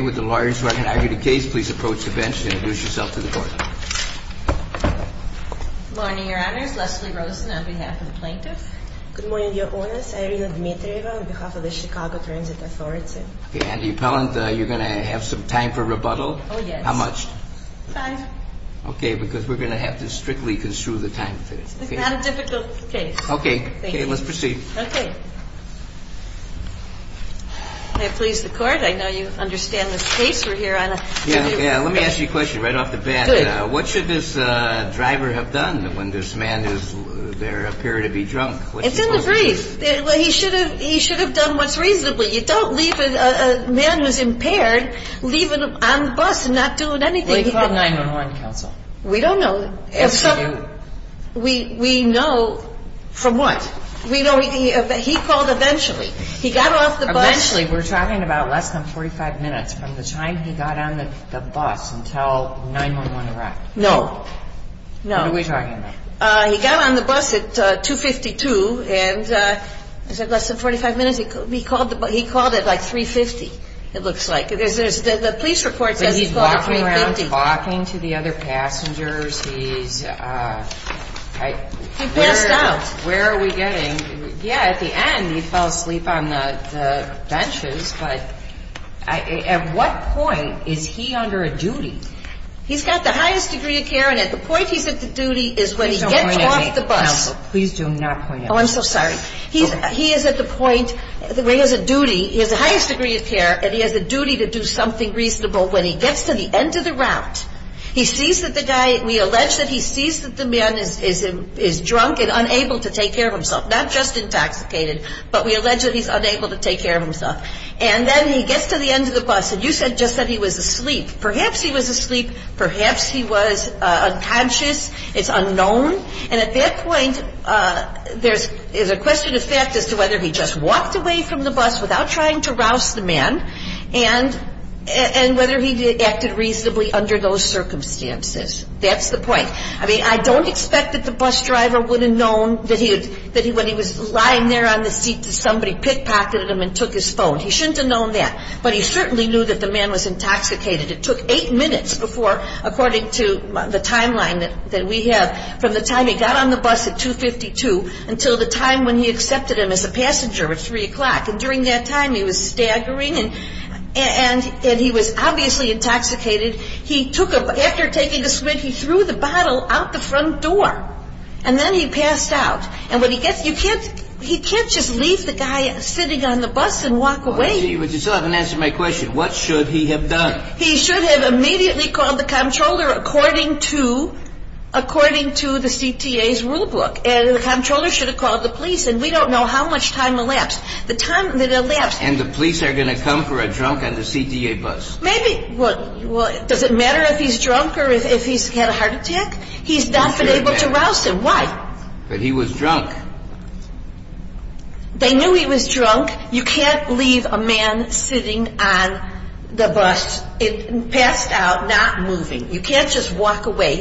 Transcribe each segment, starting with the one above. With the lawyers who are going to argue the case, please approach the bench and introduce yourself to the court. Good morning, your honors. Leslie Rosen on behalf of the plaintiffs. Good morning, your honors. Irina Dmitrieva on behalf of the Chicago Transit Authority. And the appellant, you're going to have some time for rebuttal? Oh, yes. How much? Five. Okay, because we're going to have to strictly construe the time. It's not a difficult case. Okay, let's proceed. Okay. May it please the court. I know you understand this case we're here on. Yeah, let me ask you a question right off the bat. Good. What should this driver have done when this man is there, appeared to be drunk? It's in the brief. He should have done what's reasonable. You don't leave a man who's impaired leaving him on the bus and not doing anything. Well, he called 911, counsel. We don't know. Yes, you do. We know from what. We know he called eventually. He got off the bus. Eventually. We're talking about less than 45 minutes from the time he got on the bus until 911 arrived. No. No. What are we talking about? He got on the bus at 2.52, and I said less than 45 minutes. He called at like 3.50, it looks like. The police report says he called at 3.50. But he's walking around, talking to the other passengers. He passed out. Where are we getting? Yeah, at the end, he fell asleep on the benches, but at what point is he under a duty? He's got the highest degree of care, and at the point he's at the duty is when he gets off the bus. Please don't point at me, counsel. Please do not point at me. Oh, I'm so sorry. He is at the point where he has a duty. He has the highest degree of care, and he has a duty to do something reasonable. When he gets to the end of the route, he sees that the guy – we allege that he sees that the man is drunk and unable to take care of himself, not just intoxicated, but we allege that he's unable to take care of himself. And then he gets to the end of the bus, and you said just that he was asleep. Perhaps he was asleep. Perhaps he was unconscious. It's unknown. And at that point, there's a question of fact as to whether he just walked away from the bus without trying to rouse the man and whether he acted reasonably under those circumstances. That's the point. I mean, I don't expect that the bus driver would have known that when he was lying there on the seat that somebody pickpocketed him and took his phone. He shouldn't have known that. But he certainly knew that the man was intoxicated. It took eight minutes before, according to the timeline that we have, from the time he got on the bus at 2.52 until the time when he accepted him as a passenger at 3 o'clock. And during that time, he was staggering, and he was obviously intoxicated. He took a – after taking a swig, he threw the bottle out the front door, and then he passed out. And when he gets – you can't – he can't just leave the guy sitting on the bus and walk away. But you still haven't answered my question. What should he have done? He should have immediately called the comptroller according to – according to the CTA's rulebook. And the comptroller should have called the police. And we don't know how much time elapsed. The time that elapsed – And the police are going to come for a drunk on the CTA bus. Maybe – well, does it matter if he's drunk or if he's had a heart attack? He's not been able to rouse him. Why? But he was drunk. They knew he was drunk. You can't leave a man sitting on the bus, passed out, not moving. You can't just walk away.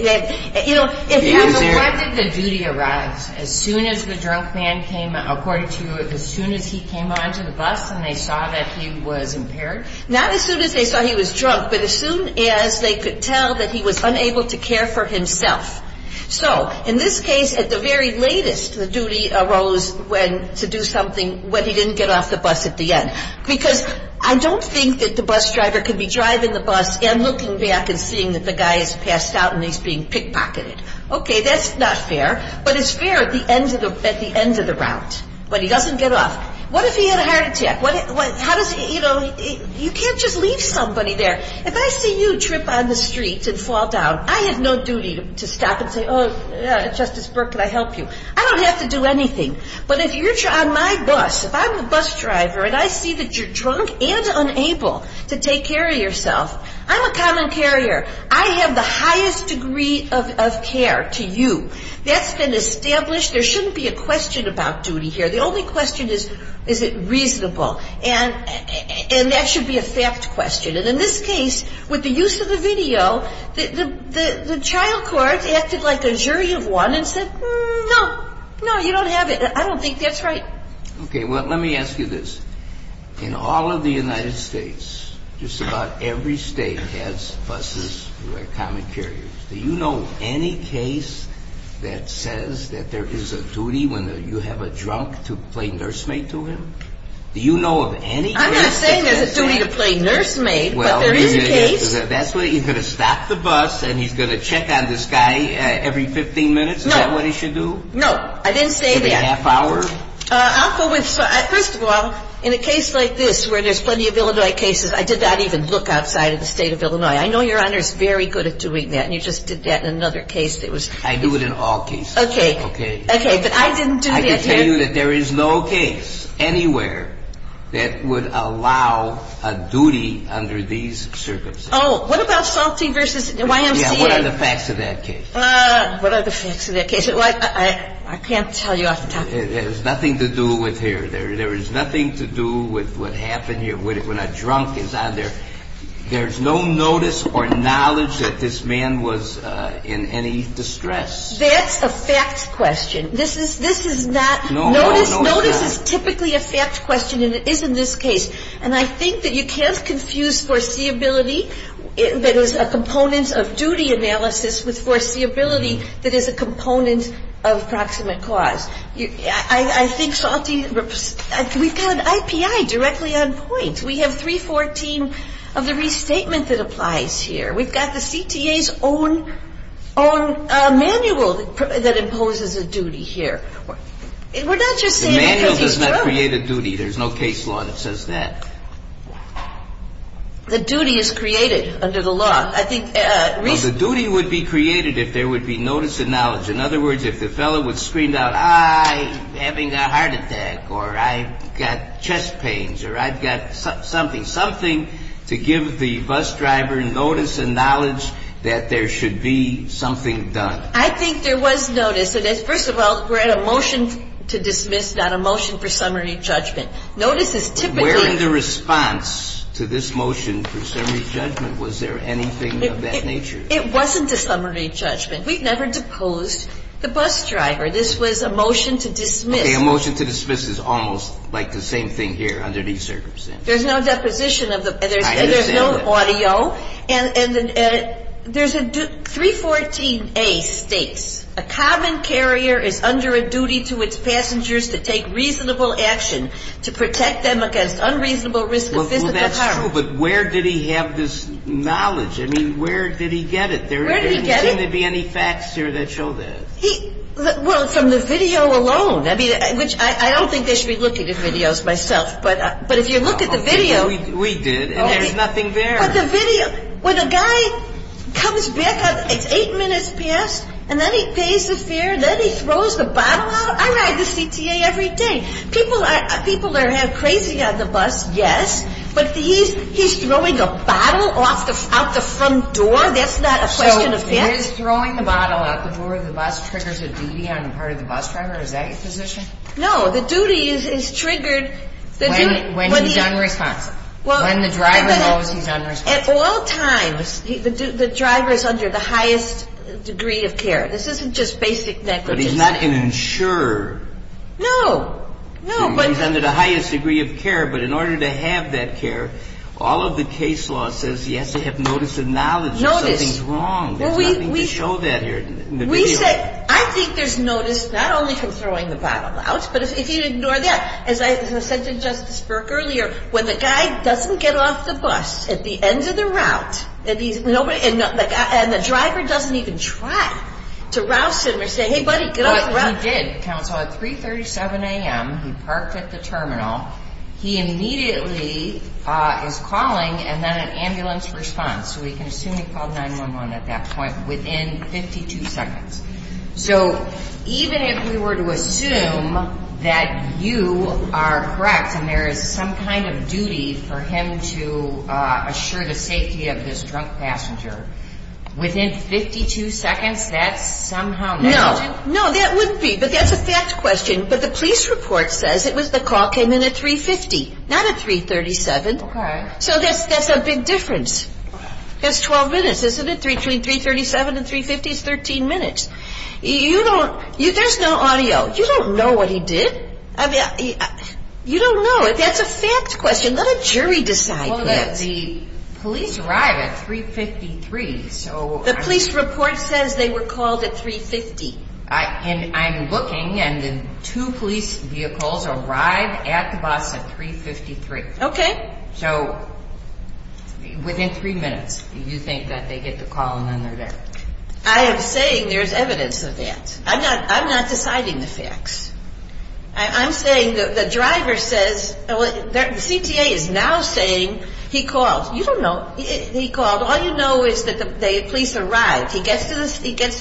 You know, if you – And when did the duty arise? As soon as the drunk man came – according to you, as soon as he came onto the bus and they saw that he was impaired? Not as soon as they saw he was drunk, but as soon as they could tell that he was unable to care for himself. So, in this case, at the very latest, the duty arose when – to do something when he didn't get off the bus at the end. Because I don't think that the bus driver can be driving the bus and looking back and seeing that the guy is passed out and he's being pickpocketed. Okay, that's not fair. But it's fair at the end of the – at the end of the route, when he doesn't get off. What if he had a heart attack? How does – you know, you can't just leave somebody there. If I see you trip on the street and fall down, I have no duty to stop and say, oh, Justice Burke, can I help you? I don't have to do anything. But if you're on my bus, if I'm a bus driver and I see that you're drunk and unable to take care of yourself, I'm a common carrier. I have the highest degree of care to you. That's been established. There shouldn't be a question about duty here. The only question is, is it reasonable? And that should be a fact question. And in this case, with the use of the video, the child court acted like a jury of one and said, no, no, you don't have it. I don't think that's right. Okay, well, let me ask you this. In all of the United States, just about every state has buses who are common carriers. Do you know of any case that says that there is a duty when you have a drunk to play nursemaid to him? Do you know of any case that says that? I'm not saying there's a duty to play nursemaid, but there is a case. That's what, you're going to stop the bus and he's going to check on this guy every 15 minutes? Is that what he should do? No, I didn't say that. For the half hour? I'll go with, first of all, in a case like this where there's plenty of Illinois cases, I did not even look outside of the state of Illinois. I know Your Honor is very good at doing that, and you just did that in another case that was. I do it in all cases. Okay. Okay. But I didn't do that here. I can tell you that there is no case anywhere that would allow a duty under these circumstances. Oh, what about Salty v. YMCA? Yeah, what are the facts of that case? What are the facts of that case? I can't tell you off the top of my head. It has nothing to do with here. There is nothing to do with what happened here when a drunk is on there. There's no notice or knowledge that this man was in any distress. That's a fact question. This is not notice. Notice is typically a fact question, and it is in this case. And I think that you can't confuse foreseeability that is a component of duty analysis with foreseeability that is a component of proximate cause. I think Salty, we've got an IPI directly on point. We have 314 of the restatement that applies here. We've got the CTA's own manual that imposes a duty here. We're not just saying because he's drunk. The manual does not create a duty. There's no case law that says that. The duty is created under the law. The duty would be created if there would be notice and knowledge. In other words, if the fellow would scream out, I'm having a heart attack or I've got chest pains or I've got something, something to give the bus driver notice and knowledge that there should be something done. I think there was notice. First of all, we're at a motion to dismiss, not a motion for summary judgment. Notice is typically the response to this motion for summary judgment. Was there anything of that nature? It wasn't a summary judgment. We've never deposed the bus driver. This was a motion to dismiss. A motion to dismiss is almost like the same thing here under these circumstances. There's no deposition. I understand that. There's no audio. And there's a 314A states, a common carrier is under a duty to its passengers to take reasonable action to protect them against unreasonable risk of physical harm. Well, that's true, but where did he have this knowledge? I mean, where did he get it? Where did he get it? There didn't seem to be any facts here that showed that. Well, from the video alone. I don't think they should be looking at videos myself. But if you look at the video. We did, and there's nothing there. But the video, when a guy comes back, it's eight minutes past, and then he pays the fare, then he throws the bottle out. I ride the CTA every day. People are crazy on the bus, yes, but he's throwing a bottle out the front door. That's not a question of facts. So is throwing a bottle out the door of the bus triggers a duty on the part of the bus driver? Is that your position? No, the duty is triggered. When he's unresponsive. When the driver knows he's unresponsive. At all times, the driver is under the highest degree of care. This isn't just basic negligence. But he's not an insurer. No, no. He's under the highest degree of care, but in order to have that care, all of the case law says he has to have notice of knowledge. Notice. Something's wrong. There's nothing to show that here in the video. We say, I think there's notice not only from throwing the bottle out, but if you ignore that. As I said to Justice Burke earlier, when the guy doesn't get off the bus at the end of the route, and the driver doesn't even try to rouse him or say, hey, buddy, get off the route. He did, counsel. At 3.37 a.m., he parked at the terminal. He immediately is calling, and then an ambulance responds. So we can assume he called 911 at that point within 52 seconds. So even if we were to assume that you are correct and there is some kind of duty for him to assure the safety of this drunk passenger, within 52 seconds, that's somehow negligent? No. No, that wouldn't be. But that's a fact question. But the police report says the call came in at 3.50, not at 3.37. Okay. So that's a big difference. That's 12 minutes, isn't it? Between 3.37 and 3.50 is 13 minutes. You don't, there's no audio. You don't know what he did. I mean, you don't know. That's a fact question. Let a jury decide that. Well, the police arrived at 3.53. The police report says they were called at 3.50. And I'm looking, and the two police vehicles arrived at the bus at 3.53. Okay. So within three minutes, do you think that they get the call and then they're there? I am saying there's evidence of that. I'm not deciding the facts. I'm saying the driver says, well, the CTA is now saying he called. You don't know he called. All you know is that the police arrived. He gets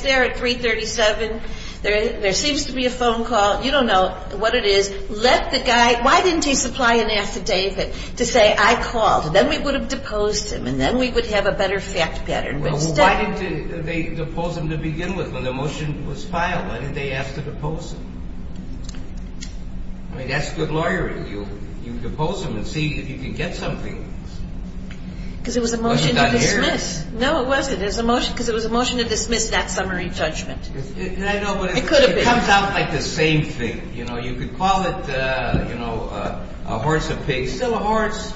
there at 3.37. There seems to be a phone call. You don't know what it is. Why didn't he supply an affidavit to say I called? Then we would have deposed him, and then we would have a better fact pattern. Why didn't they depose him to begin with when the motion was filed? Why didn't they ask to depose him? I mean, that's good lawyering. You depose him and see if you can get something. Because it was a motion to dismiss. No, it wasn't. Because it was a motion to dismiss that summary judgment. I know, but it comes out like the same thing. You could call it a horse and pig. It's still a horse.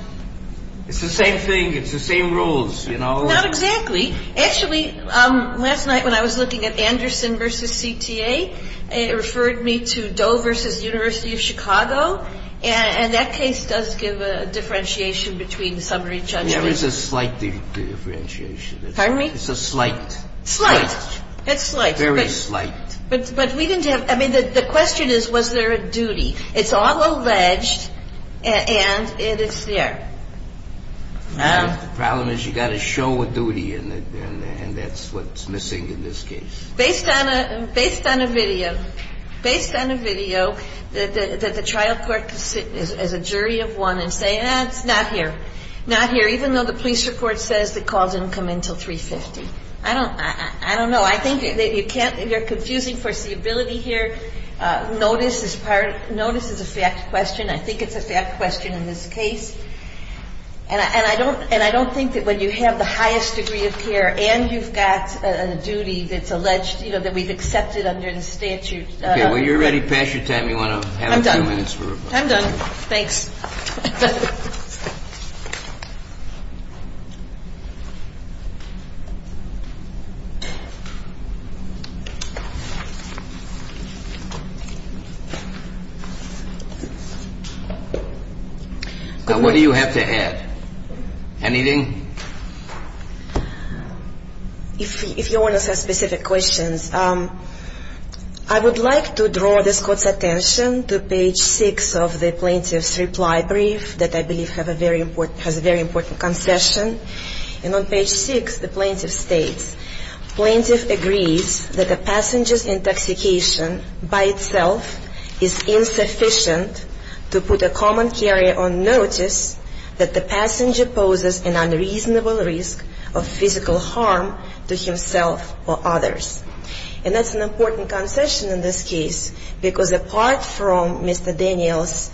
It's the same thing. It's the same rules. Not exactly. Actually, last night when I was looking at Anderson v. CTA, it referred me to Doe v. University of Chicago, and that case does give a differentiation between summary judgment. There is a slight differentiation. Pardon me? It's a slight. Slight. It's slight. Very slight. But we didn't have – I mean, the question is, was there a duty? It's all alleged, and it's there. The problem is you've got to show a duty, and that's what's missing in this case. Based on a video, based on a video that the trial court can sit as a jury of one and say, eh, it's not here, not here, even though the police report says the call didn't come in until 3.50. I don't know. I think you're confusing foreseeability here. Notice is a fact question. I think it's a fact question in this case. And I don't think that when you have the highest degree of care and you've got a duty that's alleged, you know, that we've accepted under the statute. Okay. When you're ready, pass your time. You want to have a few minutes? I'm done. Thanks. Now, what do you have to add? Anything? If you want to ask specific questions, I would like to draw this court's attention to page six of the plaintiff's report. And on page six, the plaintiff states, plaintiff agrees that the passenger's intoxication by itself is insufficient to put a common carrier on notice that the passenger poses an unreasonable risk of physical harm to himself or others. And that's an important concession in this case, because apart from Mr. Daniels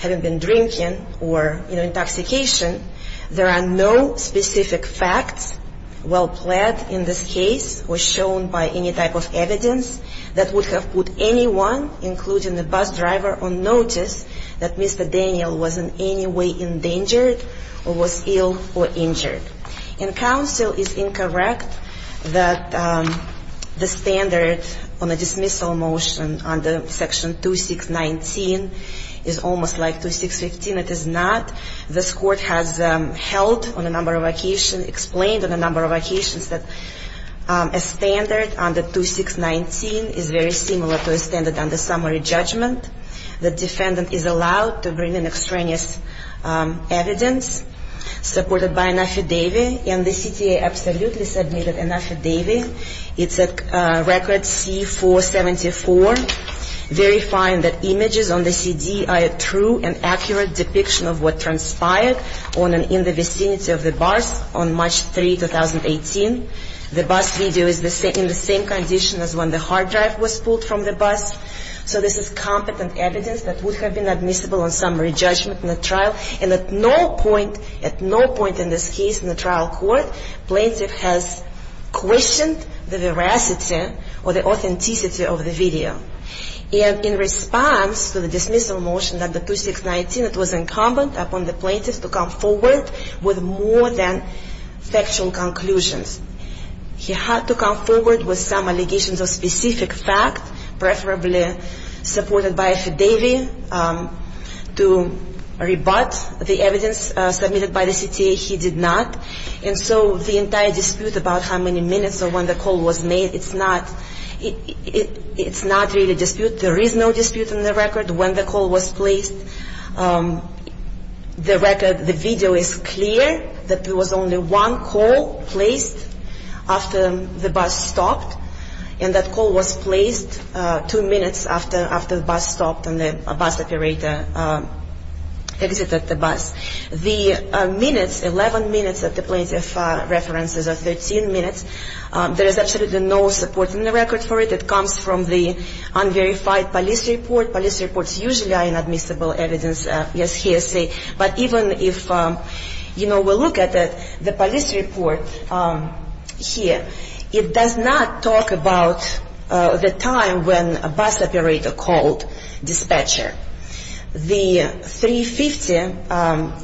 having been drinking or, you know, intoxication, there are no specific facts well-plaid in this case or shown by any type of evidence that would have put anyone, including the bus driver, on notice that Mr. Daniel was in any way endangered or was ill or injured. And counsel is incorrect that the standard on a dismissal motion under section 2619 is almost like 2615. It is not. This court has held on a number of occasions, explained on a number of occasions, that a standard under 2619 is very similar to a standard under summary judgment. The defendant is allowed to bring in extraneous evidence supported by an affidavit, and the CTA absolutely submitted an affidavit. It's at record C-474, verifying that images on the CD are a true and accurate depiction of what transpired in the vicinity of the bus on March 3, 2018. The bus video is in the same condition as when the hard drive was pulled from the bus. So this is competent evidence that would have been admissible on summary judgment in the trial. And at no point, at no point in this case in the trial court, plaintiff has questioned the veracity or the authenticity of the video. And in response to the dismissal motion under 2619, it was incumbent upon the plaintiff to come forward with more than factual conclusions. He had to come forward with some allegations of specific fact, preferably supported by affidavit, to rebut the evidence submitted by the CTA. He did not. And so the entire dispute about how many minutes or when the call was made, it's not really dispute. There is no dispute in the record when the call was placed. The record, the video is clear that there was only one call placed after the bus stopped. And that call was placed two minutes after the bus stopped and the bus operator exited the bus. The minutes, 11 minutes that the plaintiff references are 13 minutes, there is absolutely no support in the record for it. It comes from the unverified police report. Police reports usually are inadmissible evidence. But even if, you know, we look at the police report here, it does not talk about the time when a bus operator called dispatcher. The 350,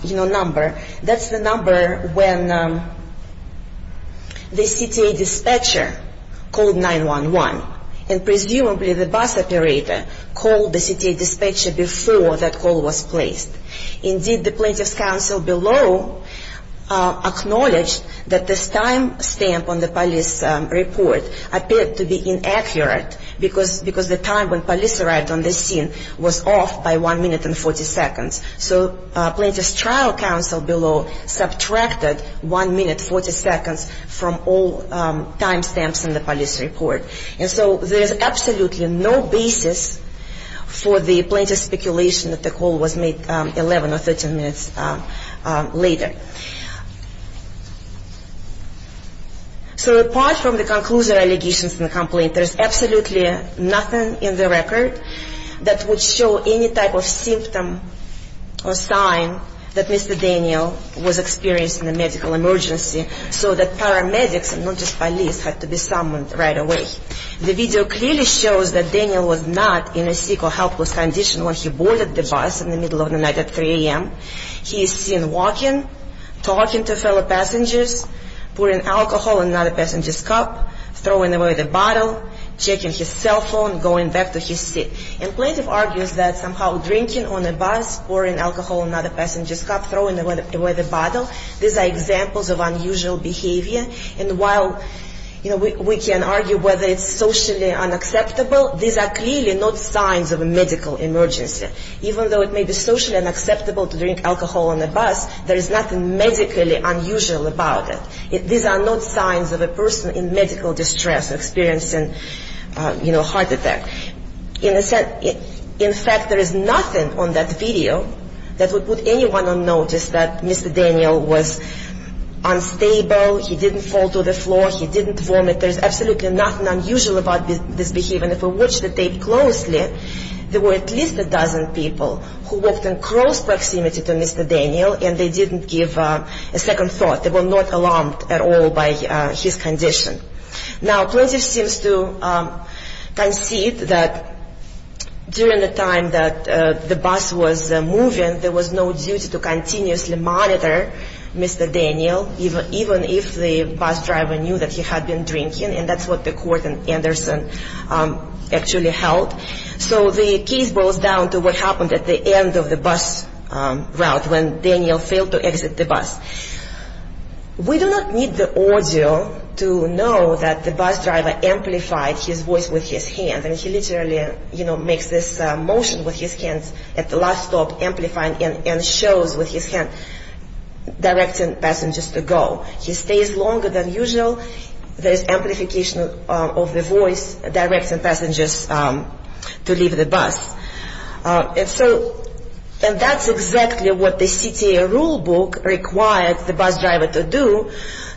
you know, number, that's the number when the CTA dispatcher called 911. And presumably the bus operator called the CTA dispatcher before that call was placed. Indeed, the plaintiff's counsel below acknowledged that this time stamp on the police report appeared to be inaccurate because the time when police arrived on the scene was off by 1 minute and 40 seconds. So plaintiff's trial counsel below subtracted 1 minute 40 seconds from all time stamps in the police report. And so there's absolutely no basis for the plaintiff's speculation that the call was made 11 or 13 minutes later. So apart from the conclusion allegations in the complaint, there's absolutely nothing in the record that would show any type of symptom or sign that Mr. Daniel was experiencing a medical emergency so that paramedics and not just police had to be summoned right away. The video clearly shows that Daniel was not in a sick or helpless condition when he boarded the bus in the middle of the night at 3 a.m. He is seen walking, talking to fellow passengers, pouring alcohol in another passenger's cup, throwing away the bottle, checking his cell phone, going back to his seat. And plaintiff argues that somehow drinking on a bus, pouring alcohol in another passenger's cup, throwing away the bottle, these are examples of unusual behavior. And while, you know, we can argue whether it's socially unacceptable, these are clearly not signs of a medical emergency. Even though it may be socially unacceptable to drink alcohol on a bus, there is nothing medically unusual about it. These are not signs of a person in medical distress experiencing, you know, heart attack. In fact, there is nothing on that video that would put anyone on notice that Mr. Daniel was unstable. He didn't fall to the floor. He didn't vomit. There is absolutely nothing unusual about this behavior. And if we watch the tape closely, there were at least a dozen people who walked in close proximity to Mr. Daniel and they didn't give a second thought. They were not alarmed at all by his condition. Now, plaintiff seems to concede that during the time that the bus was moving, there was no duty to continuously monitor Mr. Daniel, even if the bus driver knew that he had been drinking. And that's what the court in Anderson actually held. So the case boils down to what happened at the end of the bus route when Daniel failed to exit the bus. We do not need the audio to know that the bus driver amplified his voice with his hand. And he literally, you know, makes this motion with his hands at the last stop, amplifying and shows with his hand, directing passengers to go. He stays longer than usual. There is amplification of the voice directing passengers to leave the bus. And so that's exactly what the CTA rulebook required the bus driver to do,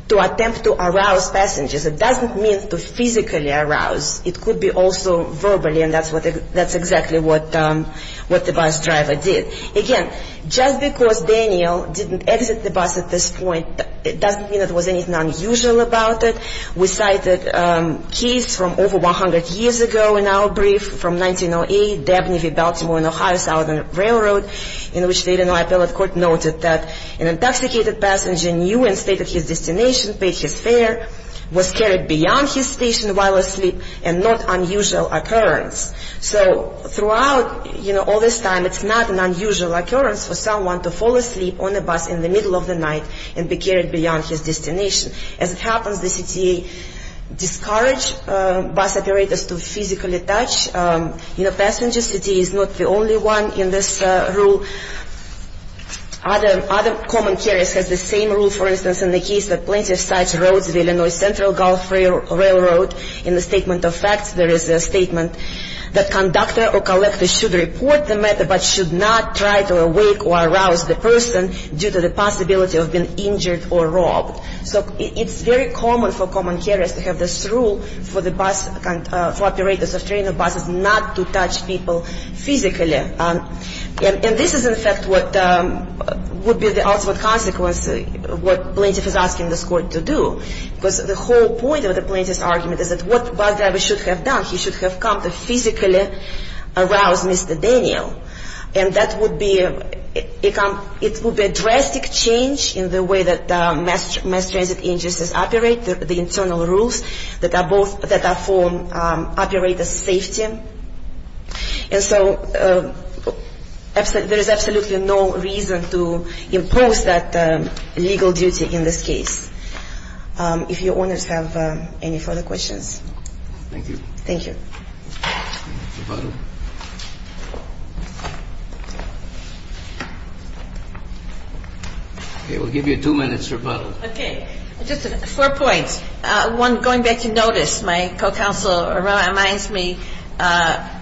to attempt to arouse passengers. It doesn't mean to physically arouse. It could be also verbally, and that's exactly what the bus driver did. Again, just because Daniel didn't exit the bus at this point, it doesn't mean there was anything unusual about it. We cited a case from over 100 years ago in our brief from 1908, Dabney v. Baltimore and Ohio Southern Railroad, in which the Illinois appellate court noted that an intoxicated passenger knew and stated his destination, paid his fare, was carried beyond his station while asleep, and not unusual occurrence. So throughout, you know, all this time, it's not an unusual occurrence for someone to fall asleep on a bus in the middle of the night and be carried beyond his destination. As it happens, the CTA discouraged bus operators to physically touch, you know, passengers. The CTA is not the only one in this rule. Other common carriers have the same rule, for instance, in the case of Plenty of Sides Roads, the Illinois Central Gulf Railroad. In the Statement of Facts, there is a statement that conductor or collector should report the matter but should not try to awake or arouse the person due to the possibility of being injured or robbed. So it's very common for common carriers to have this rule for the bus operators of train or buses not to touch people physically. And this is, in fact, what would be the ultimate consequence of what Plenty of Sides is asking this court to do. Because the whole point of the Plenty of Sides argument is that what bus driver should have done, he should have come to physically arouse Mr. Daniel. And that would be a drastic change in the way that mass transit agencies operate, the internal rules that are for operator's safety. And so there is absolutely no reason to impose that legal duty in this case. If your owners have any further questions. Thank you. Thank you. Okay. We'll give you two minutes rebuttal. Okay. Just four points. One, going back to notice, my co-counsel reminds me that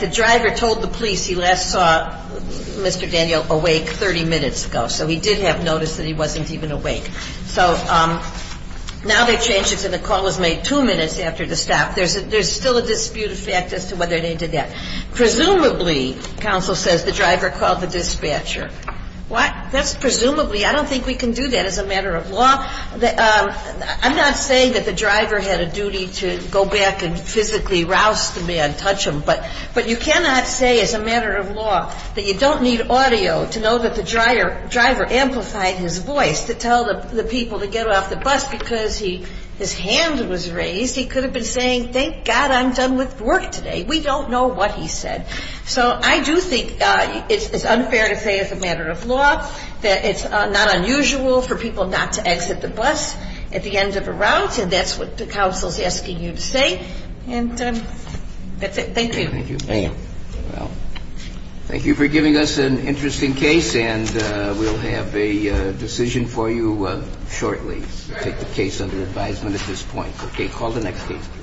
the driver told the police he last saw Mr. Daniel awake 30 minutes ago. So he did have notice that he wasn't even awake. So now they changed it to the call was made two minutes after the stop. There's still a dispute effect as to whether they did that. Presumably, counsel says the driver called the dispatcher. That's presumably. I don't think we can do that as a matter of law. I'm not saying that the driver had a duty to go back and physically arouse the man, touch him. But you cannot say as a matter of law that you don't need audio to know that the driver amplified his voice to tell the people to get off the bus because his hand was raised. He could have been saying, thank God I'm done with work today. We don't know what he said. So I do think it's unfair to say as a matter of law that it's not unusual for people not to exit the bus at the end of a route. And that's what the council's asking you to say. And that's it. Thank you. Thank you for giving us an interesting case. And we'll have a decision for you shortly. Take the case under advisement at this point. Okay. Call the next case.